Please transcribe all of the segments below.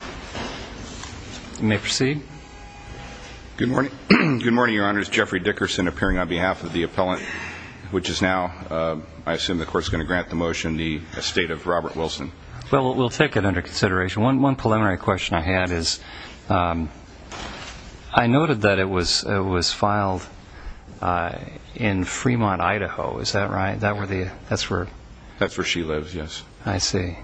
You may proceed. Good morning, Your Honor. This is Jeffrey Dickerson appearing on behalf of the appellant, which is now, I assume the Court's going to grant the motion, the estate of Robert Wilson. Well, we'll take it under consideration. One preliminary question I had is I noted that it was filed in Fremont, Idaho. Is that right? That's where she lives, yes. I see.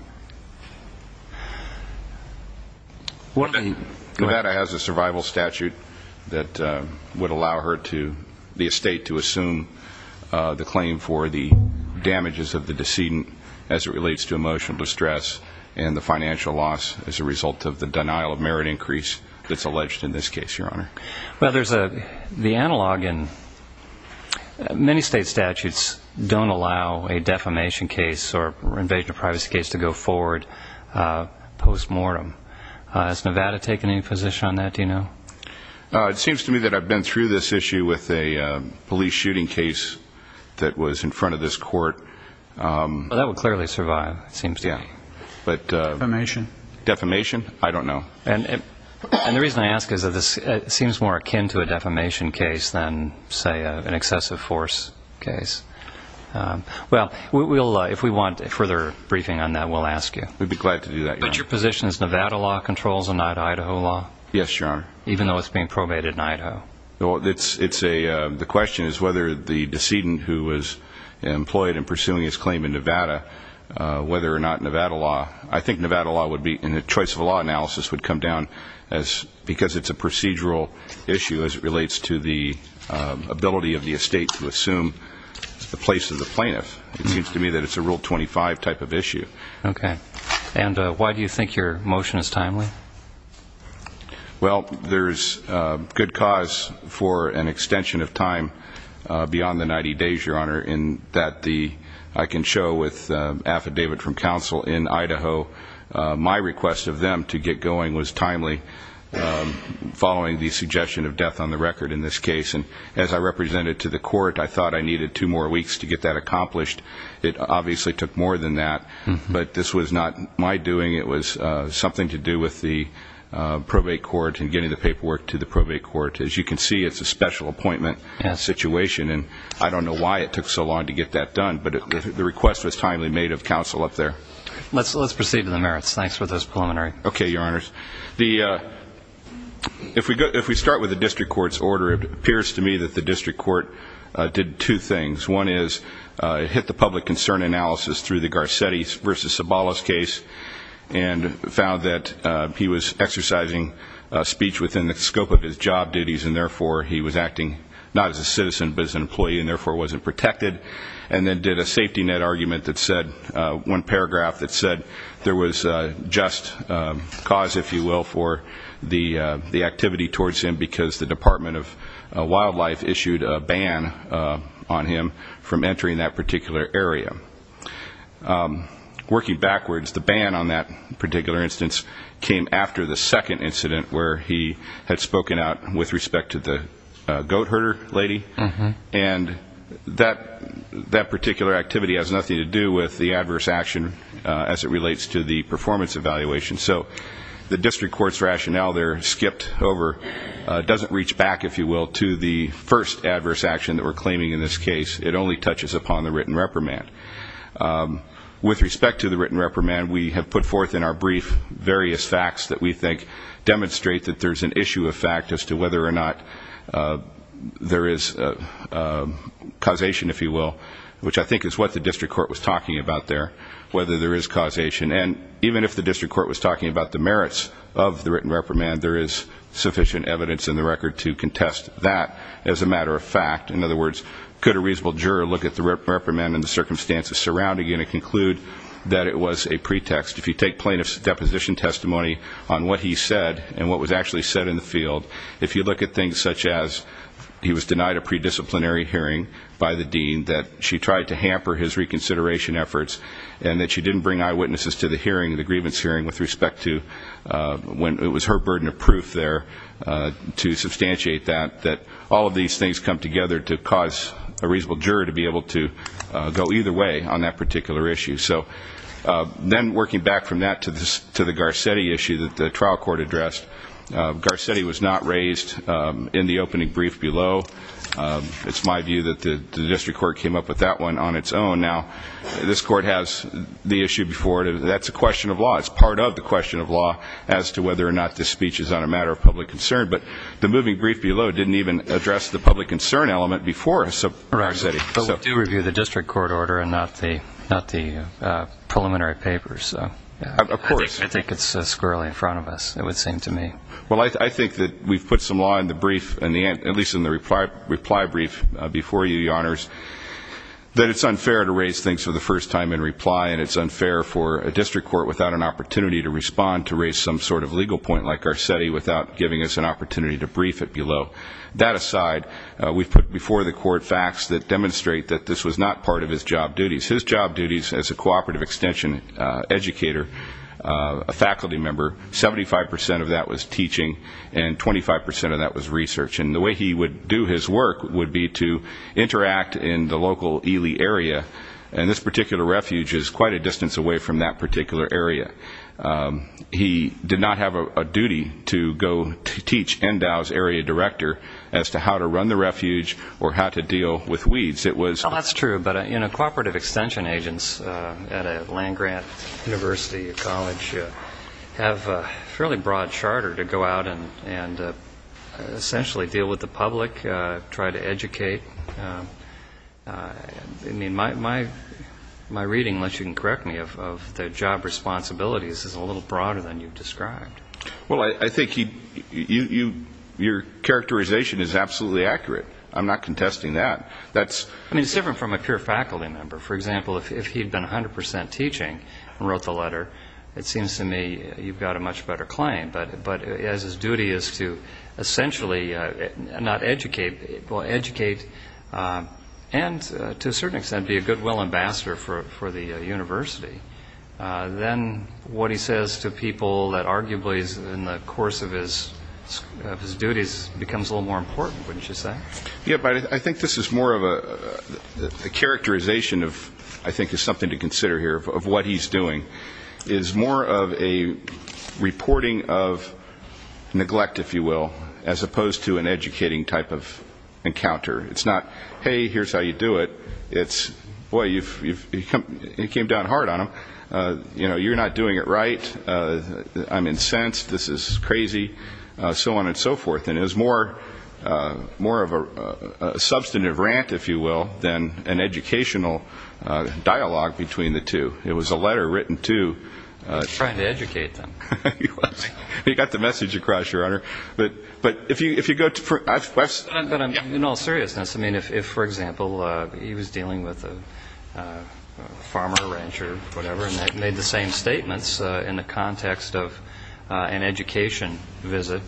Nevada has a survival statute that would allow the estate to assume the claim for the damages of the decedent as it relates to emotional distress and the financial loss as a result of the denial of merit increase that's alleged in this case, Your Honor. Well, there's the analog in many state statutes don't allow a defamation case or invasion of privacy case to go forward postmortem. Has Nevada taken any position on that? Do you know? It seems to me that I've been through this issue with a police shooting case that was in front of this court. Well, that would clearly survive, it seems to me. Defamation? Defamation? I don't know. And the reason I ask is that this seems more akin to a defamation case than, say, an excessive force case. Well, if we want further briefing on that, we'll ask you. We'd be glad to do that, Your Honor. But your position is Nevada law controls and not Idaho law? Yes, Your Honor. Even though it's being probated in Idaho? The question is whether the decedent who was employed in pursuing his claim in Nevada, whether or not Nevada law I think Nevada law would be in a choice of law analysis would come down as because it's a procedural issue as it relates to the ability of the estate to assume the place of the plaintiff. It seems to me that it's a Rule 25 type of issue. Okay. And why do you think your motion is timely? Well, there's good cause for an extension of time beyond the 90 days, Your Honor, that I can show with affidavit from counsel in Idaho. My request of them to get going was timely following the suggestion of death on the record in this case. And as I represented to the court, I thought I needed two more weeks to get that accomplished. It obviously took more than that. But this was not my doing. It was something to do with the probate court and getting the paperwork to the probate court. As you can see, it's a special appointment situation. And I don't know why it took so long to get that done. But the request was timely made of counsel up there. Let's proceed to the merits. Thanks for this preliminary. Okay, Your Honors. If we start with the district court's order, it appears to me that the district court did two things. One is it hit the public concern analysis through the Garcetti v. Sabala's case and found that he was exercising speech within the scope of his job duties, and therefore he was acting not as a citizen but as an employee and therefore wasn't protected, and then did a safety net argument that said, one paragraph that said, there was just cause, if you will, for the activity towards him because the Department of Wildlife issued a ban on him from entering that particular area. Working backwards, the ban on that particular instance came after the second incident where he had spoken out with respect to the goat herder lady. And that particular activity has nothing to do with the adverse action as it relates to the performance evaluation. So the district court's rationale there skipped over, doesn't reach back, if you will, to the first adverse action that we're claiming in this case. It only touches upon the written reprimand. With respect to the written reprimand, we have put forth in our brief various facts that we think demonstrate that there's an issue of fact as to whether or not there is causation, if you will, which I think is what the district court was talking about there, whether there is causation. And even if the district court was talking about the merits of the written reprimand, there is sufficient evidence in the record to contest that as a matter of fact. In other words, could a reasonable juror look at the reprimand and the circumstances surrounding it and conclude that it was a pretext? If you take plaintiff's deposition testimony on what he said and what was actually said in the field, if you look at things such as he was denied a pre-disciplinary hearing by the dean, that she tried to hamper his reconsideration efforts, and that she didn't bring eyewitnesses to the hearing, the grievance hearing, with respect to when it was her burden of proof there to substantiate that, that all of these things come together to cause a reasonable juror to be able to go either way on that particular issue. So then working back from that to the Garcetti issue that the trial court addressed, Garcetti was not raised in the opening brief below. It's my view that the district court came up with that one on its own. Now, this court has the issue before it. That's a question of law. It's part of the question of law as to whether or not this speech is on a matter of public concern. But the moving brief below didn't even address the public concern element before Garcetti. But we do review the district court order and not the preliminary papers. Of course. I think it's squirrelly in front of us, it would seem to me. Well, I think that we've put some law in the brief, at least in the reply brief before you, Your Honors, that it's unfair to raise things for the first time in reply, and it's unfair for a district court without an opportunity to respond to raise some sort of legal point like Garcetti without giving us an opportunity to brief it below. That aside, we've put before the court facts that demonstrate that this was not part of his job duties. His job duties as a cooperative extension educator, a faculty member, 75 percent of that was teaching, and 25 percent of that was research. And the way he would do his work would be to interact in the local Ely area, and this particular refuge is quite a distance away from that particular area. He did not have a duty to go teach NDOW's area director as to how to run the refuge or how to deal with weeds. It was... Well, that's true. But, you know, cooperative extension agents at a land-grant university or college have a fairly broad charter to go out and essentially deal with the public, try to educate. I mean, my reading, unless you can correct me, of the job responsibilities is a little broader than you've described. Well, I think your characterization is absolutely accurate. I'm not contesting that. I mean, it's different from a pure faculty member. For example, if he had been 100 percent teaching and wrote the letter, it seems to me you've got a much better claim. But as his duty is to essentially not educate, well, educate and, to a certain extent, be a goodwill ambassador for the university, then what he says to people that arguably is in the course of his duties becomes a little more important, wouldn't you say? Yeah, but I think this is more of a characterization of, I think is something to consider here, of what he's doing, is more of a reporting of neglect, if you will, as opposed to an educating type of encounter. It's not, hey, here's how you do it. It's, boy, you came down hard on him. You know, you're not doing it right. I'm incensed. This is crazy. So on and so forth. And it was more of a substantive rant, if you will, than an educational dialogue between the two. It was a letter written to. He was trying to educate them. He was. He got the message across, Your Honor. But if you go to the first question. But in all seriousness, I mean, if, for example, he was dealing with a farmer, a rancher, whatever, and they made the same statements in the context of an education visit,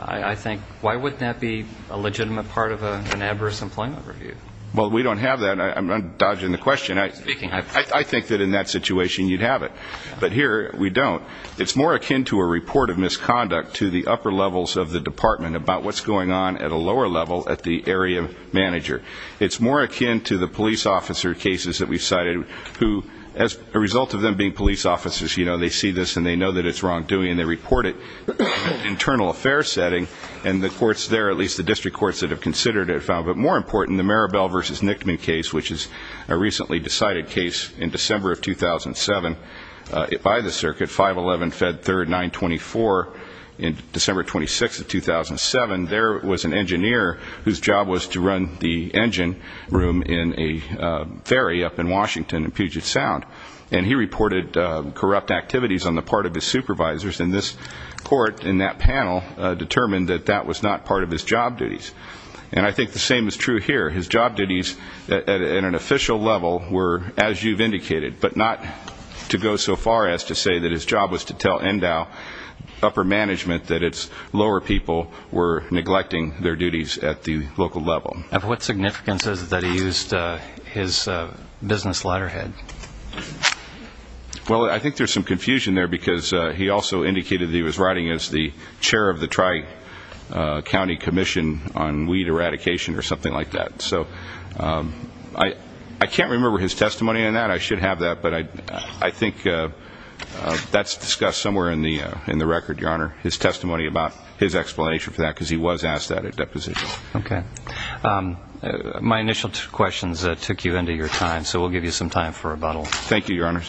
I think, why wouldn't that be a legitimate part of an adverse employment review? Well, we don't have that. I'm dodging the question. I think that in that situation you'd have it. But here we don't. It's more akin to a report of misconduct to the upper levels of the department about what's going on at a lower level at the area manager. It's more akin to the police officer cases that we've cited, who as a result of them being police officers, you know, they see this and they know that it's wrongdoing, and they report it in an internal affairs setting, and the courts there, at least the district courts that have considered it, but more important, the Maribel v. Nickman case, which is a recently decided case in December of 2007 by the circuit, 5-11, Fed 3rd, 924. In December 26th of 2007, there was an engineer whose job was to run the engine room in a ferry up in Washington in Puget Sound, and he reported corrupt activities on the part of his supervisors, and this court in that panel determined that that was not part of his job duties. And I think the same is true here. His job duties at an official level were, as you've indicated, but not to go so far as to say that his job was to tell NDAO upper management that its lower people were neglecting their duties at the local level. Of what significance is it that he used his business letterhead? Well, I think there's some confusion there because he also indicated that he was writing as the chair of the Tri-County Commission on Weed Eradication or something like that. So I can't remember his testimony on that. I should have that, but I think that's discussed somewhere in the record, Your Honor, his testimony about his explanation for that because he was asked that at deposition. Okay. My initial questions took you into your time, so we'll give you some time for rebuttal. Thank you, Your Honor.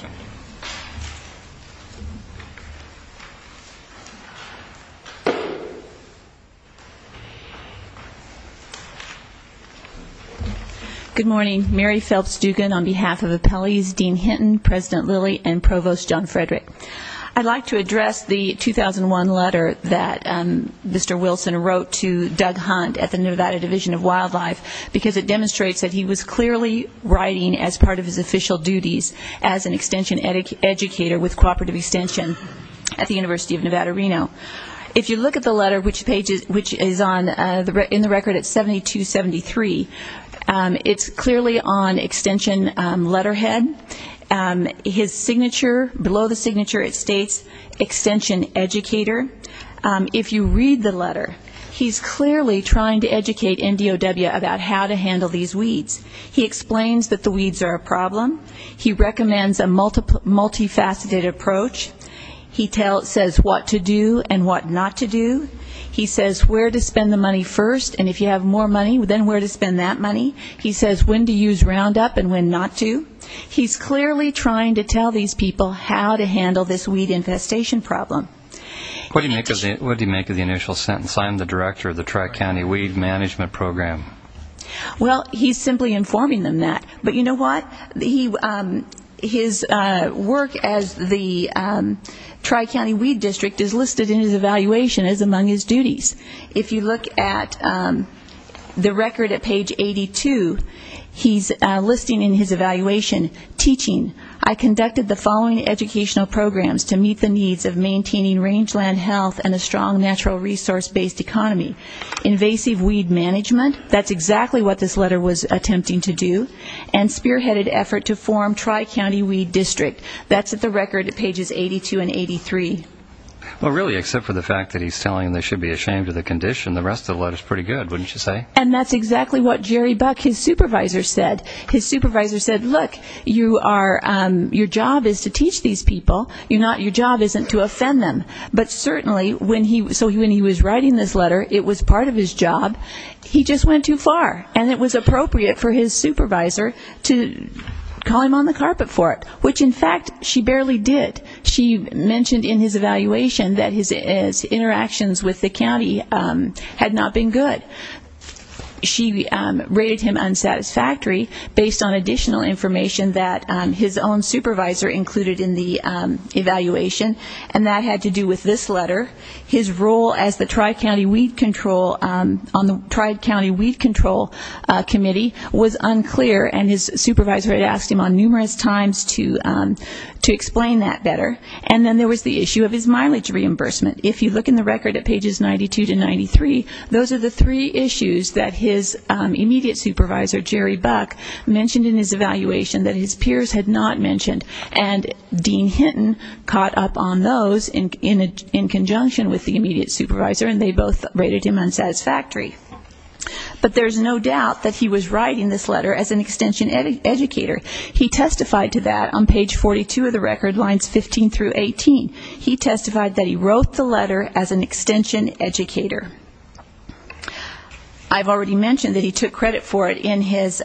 Good morning. Mary Phelps Dugan on behalf of appellees Dean Hinton, President Lilly, and Provost John Frederick. I'd like to address the 2001 letter that Mr. Wilson wrote to Doug Hunt at the Nevada Division of Wildlife because it demonstrates that he was clearly writing as part of his official duties as an extension educator with cooperative extension at the University of Nevada, Reno. If you look at the letter, which is in the record at 7273, it's clearly on extension letterhead. His signature, below the signature it states extension educator. If you read the letter, he's clearly trying to educate NDOW about how to handle these weeds. He explains that the weeds are a problem. He recommends a multifaceted approach. He says what to do and what not to do. He says where to spend the money first, and if you have more money, then where to spend that money. He says when to use Roundup and when not to. He's clearly trying to tell these people how to handle this weed infestation problem. What did he make of the initial sentence? I'm the director of the Tri-County Weed Management Program. Well, he's simply informing them that. But you know what? His work as the Tri-County Weed District is listed in his evaluation as among his duties. If you look at the record at page 82, he's listing in his evaluation, I conducted the following educational programs to meet the needs of maintaining rangeland health and a strong natural resource-based economy. Invasive weed management, that's exactly what this letter was attempting to do, and spearheaded effort to form Tri-County Weed District. That's at the record at pages 82 and 83. Well, really, except for the fact that he's telling them they should be ashamed of the condition, the rest of the letter's pretty good, wouldn't you say? And that's exactly what Jerry Buck, his supervisor, said. Look, your job is to teach these people. Your job isn't to offend them. But certainly, when he was writing this letter, it was part of his job. He just went too far. And it was appropriate for his supervisor to call him on the carpet for it, which, in fact, she barely did. She mentioned in his evaluation that his interactions with the county had not been good. She rated him unsatisfactory based on additional information that his own supervisor included in the evaluation, and that had to do with this letter. His role as the Tri-County Weed Control Committee was unclear, and his supervisor had asked him on numerous times to explain that better. And then there was the issue of his mileage reimbursement. If you look in the record at pages 92 to 93, those are the three issues that his immediate supervisor, Jerry Buck, mentioned in his evaluation that his peers had not mentioned. And Dean Hinton caught up on those in conjunction with the immediate supervisor, and they both rated him unsatisfactory. But there's no doubt that he was writing this letter as an extension educator. He testified to that on page 42 of the record, lines 15 through 18. He testified that he wrote the letter as an extension educator. I've already mentioned that he took credit for it in his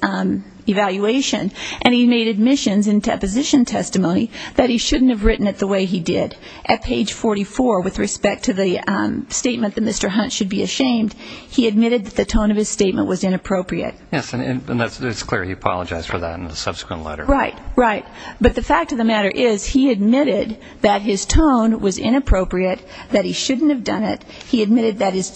evaluation, and he made admissions and deposition testimony that he shouldn't have written it the way he did. At page 44, with respect to the statement that Mr. Hunt should be ashamed, he admitted that the tone of his statement was inappropriate. Yes, and it's clear he apologized for that in the subsequent letter. Right, right. But the fact of the matter is he admitted that his tone was inappropriate, that he shouldn't have done it. He admitted that his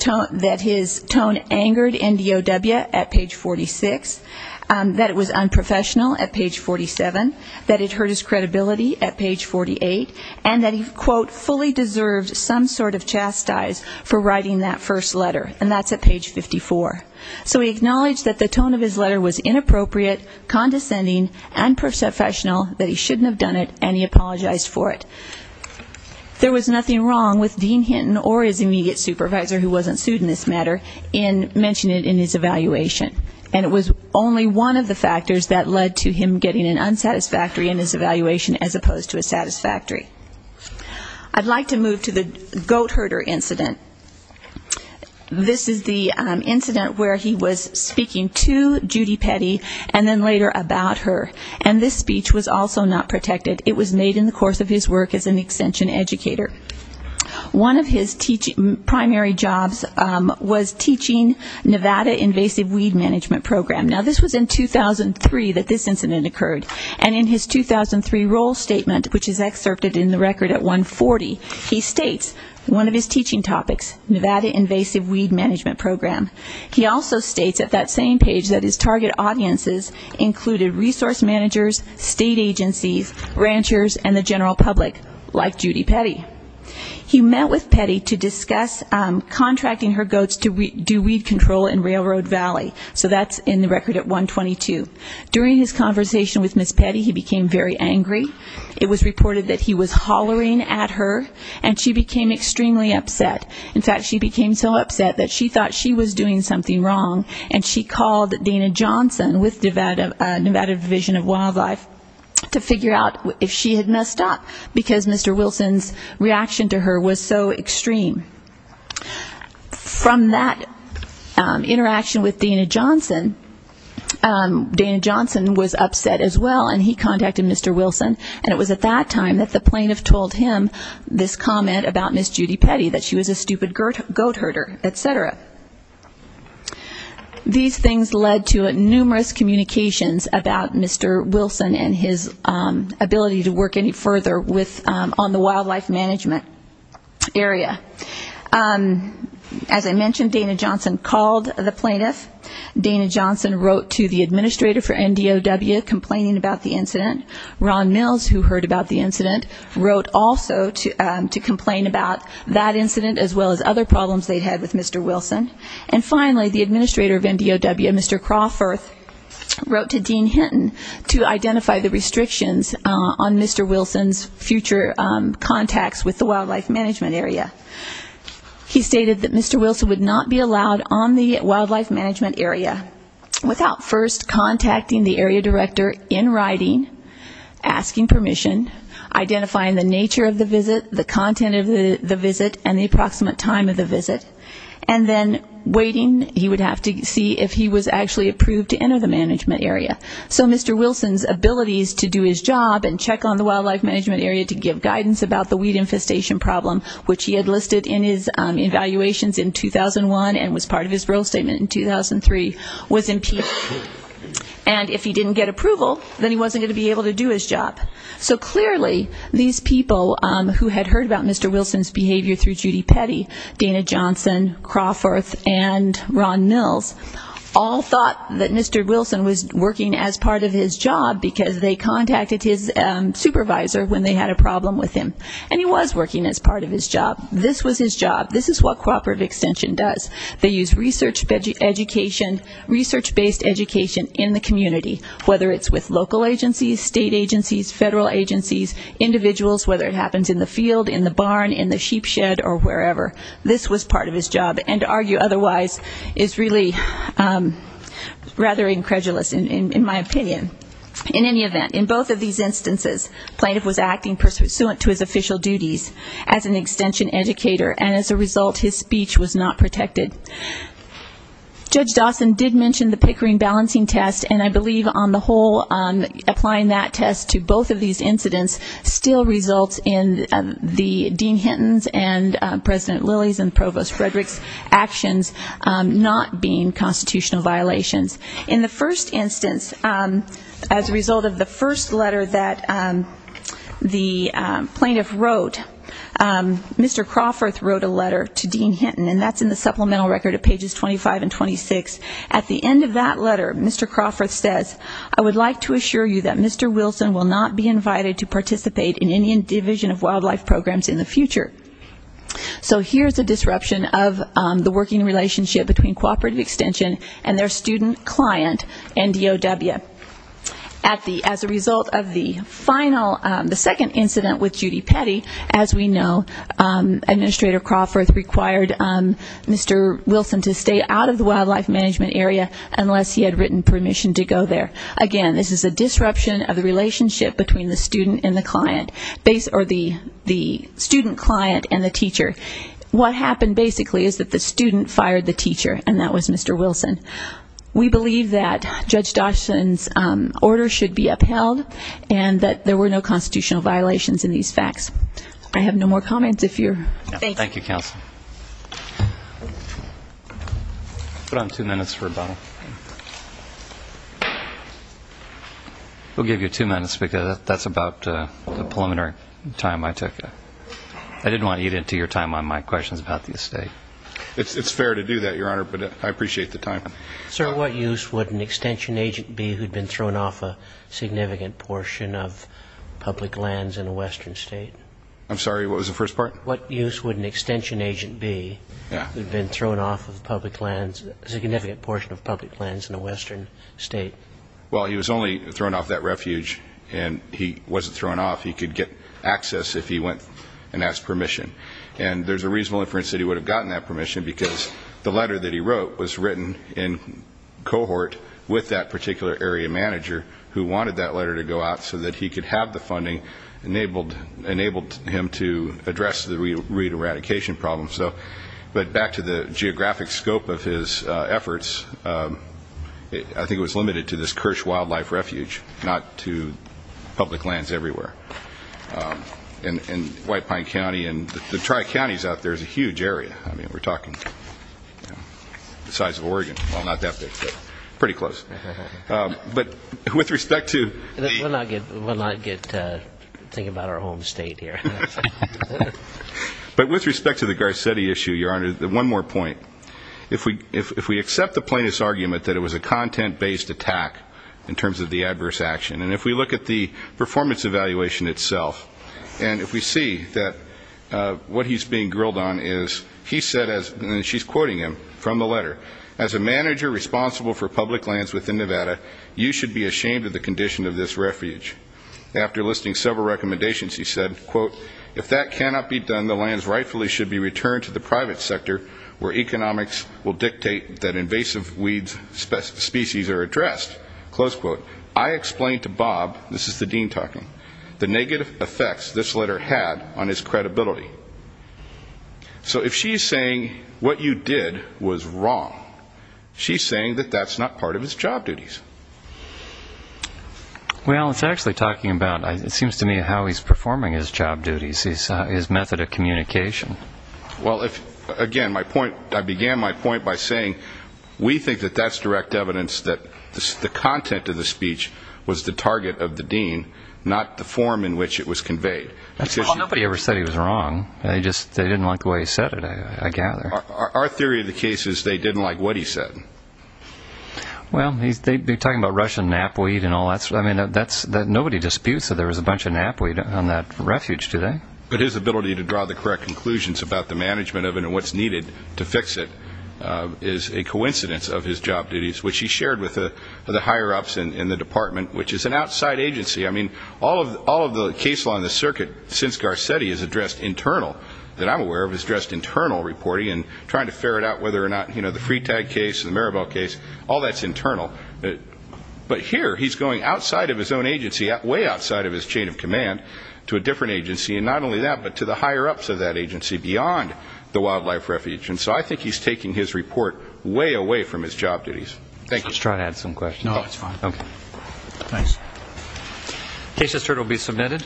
tone angered NDOW at page 46, that it was unprofessional at page 47, that it hurt his credibility at page 48, and that he, quote, fully deserved some sort of chastise for writing that first letter. And that's at page 54. So he acknowledged that the tone of his letter was inappropriate, condescending, and unprofessional, that he shouldn't have done it, and he apologized for it. There was nothing wrong with Dean Hinton or his immediate supervisor, who wasn't sued in this matter, in mentioning it in his evaluation. And it was only one of the factors that led to him getting an unsatisfactory in his evaluation as opposed to a satisfactory. I'd like to move to the goat herder incident. This is the incident where he was speaking to Judy Petty and then later about her. And this speech was also not protected. It was made in the course of his work as an extension educator. One of his primary jobs was teaching Nevada Invasive Weed Management Program. Now, this was in 2003 that this incident occurred. And in his 2003 role statement, which is excerpted in the record at 140, he states one of his teaching topics, Nevada Invasive Weed Management Program. He also states at that same page that his target audiences included resource managers, state agencies, ranchers, and the general public, like Judy Petty. He met with Petty to discuss contracting her goats to do weed control in Railroad Valley. So that's in the record at 122. During his conversation with Miss Petty, he became very angry. It was reported that he was hollering at her, and she became extremely upset. In fact, she became so upset that she thought she was doing something wrong, and she called Dana Johnson with Nevada Division of Wildlife to figure out if she had messed up because Mr. Wilson's reaction to her was so extreme. From that interaction with Dana Johnson, Dana Johnson was upset as well, and he contacted Mr. Wilson. And it was at that time that the plaintiff told him this comment about Miss Judy Petty, that she was a stupid goat herder, et cetera. These things led to numerous communications about Mr. Wilson and his ability to work any further on the wildlife management area. As I mentioned, Dana Johnson called the plaintiff. Dana Johnson wrote to the administrator for NDOW complaining about the incident. Ron Mills, who heard about the incident, wrote also to complain about that incident as well as other problems they had with Mr. Wilson. And finally, the administrator of NDOW, Mr. Crawforth, wrote to Dean Hinton to identify the restrictions on Mr. Wilson's future contacts with the wildlife management area. He stated that Mr. Wilson would not be allowed on the wildlife management area without first contacting the area director in writing, asking permission, identifying the nature of the visit, the content of the visit, and the approximate time of the visit, and then waiting. He would have to see if he was actually approved to enter the management area. So Mr. Wilson's abilities to do his job and check on the wildlife management area to give guidance about the weed infestation problem, which he had listed in his evaluations in 2001 and was part of his rule statement in 2003, was impeachable. And if he didn't get approval, then he wasn't going to be able to do his job. So clearly these people who had heard about Mr. Wilson's behavior through Judy Petty, Dana Johnson, Crawforth, and Ron Mills all thought that Mr. Wilson was working as part of his job because they contacted his supervisor when they had a problem with him. And he was working as part of his job. This was his job. This is what Cooperative Extension does. They use research-based education in the community, whether it's with local agencies, state agencies, federal agencies, individuals, whether it happens in the field, in the barn, in the sheep shed, or wherever. This was part of his job. And to argue otherwise is really rather incredulous, in my opinion. In any event, in both of these instances, plaintiff was acting pursuant to his official duties as an extension educator, and as a result his speech was not protected. Judge Dawson did mention the Pickering balancing test, and I believe on the whole applying that test to both of these incidents still results in the Dean Hinton's and President Lilly's and Provost Frederick's actions not being constitutional violations. In the first instance, as a result of the first letter that the plaintiff wrote, Mr. Crawforth wrote a letter to Dean Hinton, and that's in the supplemental record of pages 25 and 26. At the end of that letter, Mr. Crawforth says, I would like to assure you that Mr. Wilson will not be invited to participate in any division of wildlife programs in the future. So here's a disruption of the working relationship between Cooperative Extension and their student client, NDOW. As a result of the second incident with Judy Petty, as we know, Administrator Crawforth required Mr. Wilson to stay out of the wildlife management area unless he had written permission to go there. Again, this is a disruption of the relationship between the student client and the teacher. What happened basically is that the student fired the teacher, and that was Mr. Wilson. We believe that Judge Dawson's order should be upheld and that there were no constitutional violations in these facts. I have no more comments. Thank you, Counsel. Put on two minutes for rebuttal. We'll give you two minutes because that's about the preliminary time I took. I didn't want to eat into your time on my questions about the estate. It's fair to do that, Your Honor, but I appreciate the time. Sir, what use would an extension agent be who'd been thrown off a significant portion of public lands in a western state? I'm sorry, what was the first part? What use would an extension agent be who'd been thrown off of public lands, a significant portion of public lands in a western state? Well, he was only thrown off that refuge, and he wasn't thrown off. He could get access if he went and asked permission. And there's a reasonable inference that he would have gotten that permission because the letter that he wrote was written in cohort with that particular area manager who wanted that letter to go out so that he could have the funding that enabled him to address the re-eradication problem. But back to the geographic scope of his efforts, I think it was limited to this Kirsch Wildlife Refuge, not to public lands everywhere. And White Pine County and the tri-counties out there is a huge area. I mean, we're talking the size of Oregon. Well, not that big, but pretty close. But with respect to the... We'll not get to thinking about our home state here. But with respect to the Garcetti issue, Your Honor, one more point. If we accept the plaintiff's argument that it was a content-based attack in terms of the adverse action, and if we look at the performance evaluation itself and if we see that what he's being grilled on is he said, and she's quoting him from the letter, as a manager responsible for public lands within Nevada, you should be ashamed of the condition of this refuge. After listing several recommendations, he said, quote, if that cannot be done, the lands rightfully should be returned to the private sector where economics will dictate that invasive weed species are addressed. Close quote. I explained to Bob, this is the dean talking, the negative effects this letter had on his credibility. So if she's saying what you did was wrong, she's saying that that's not part of his job duties. Well, it's actually talking about, it seems to me, how he's performing his job duties, his method of communication. Well, again, I began my point by saying we think that that's direct evidence that the content of the speech was the target of the dean, not the form in which it was conveyed. Well, nobody ever said he was wrong. They just didn't like the way he said it, I gather. Our theory of the case is they didn't like what he said. Well, they'd be talking about Russian knapweed and all that. Nobody disputes that there was a bunch of knapweed on that refuge, do they? But his ability to draw the correct conclusions about the management of it and what's needed to fix it is a coincidence of his job duties, which he shared with the higher-ups in the department, which is an outside agency. I mean, all of the case law in the circuit since Garcetti is addressed internal, that I'm aware of, is addressed internal reporting and trying to ferret out whether or not the Freetag case, the Maribel case, all that's internal. But here he's going outside of his own agency, way outside of his chain of command to a different agency, and not only that, but to the higher-ups of that agency beyond the wildlife refuge. And so I think he's taking his report way away from his job duties. Thank you. Let's try to add some questions. No, that's fine. Okay. Thanks. The case just heard will be submitted.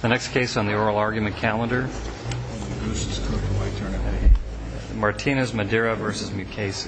The next case on the oral argument calendar, Martinez-Madera v. Mukasey.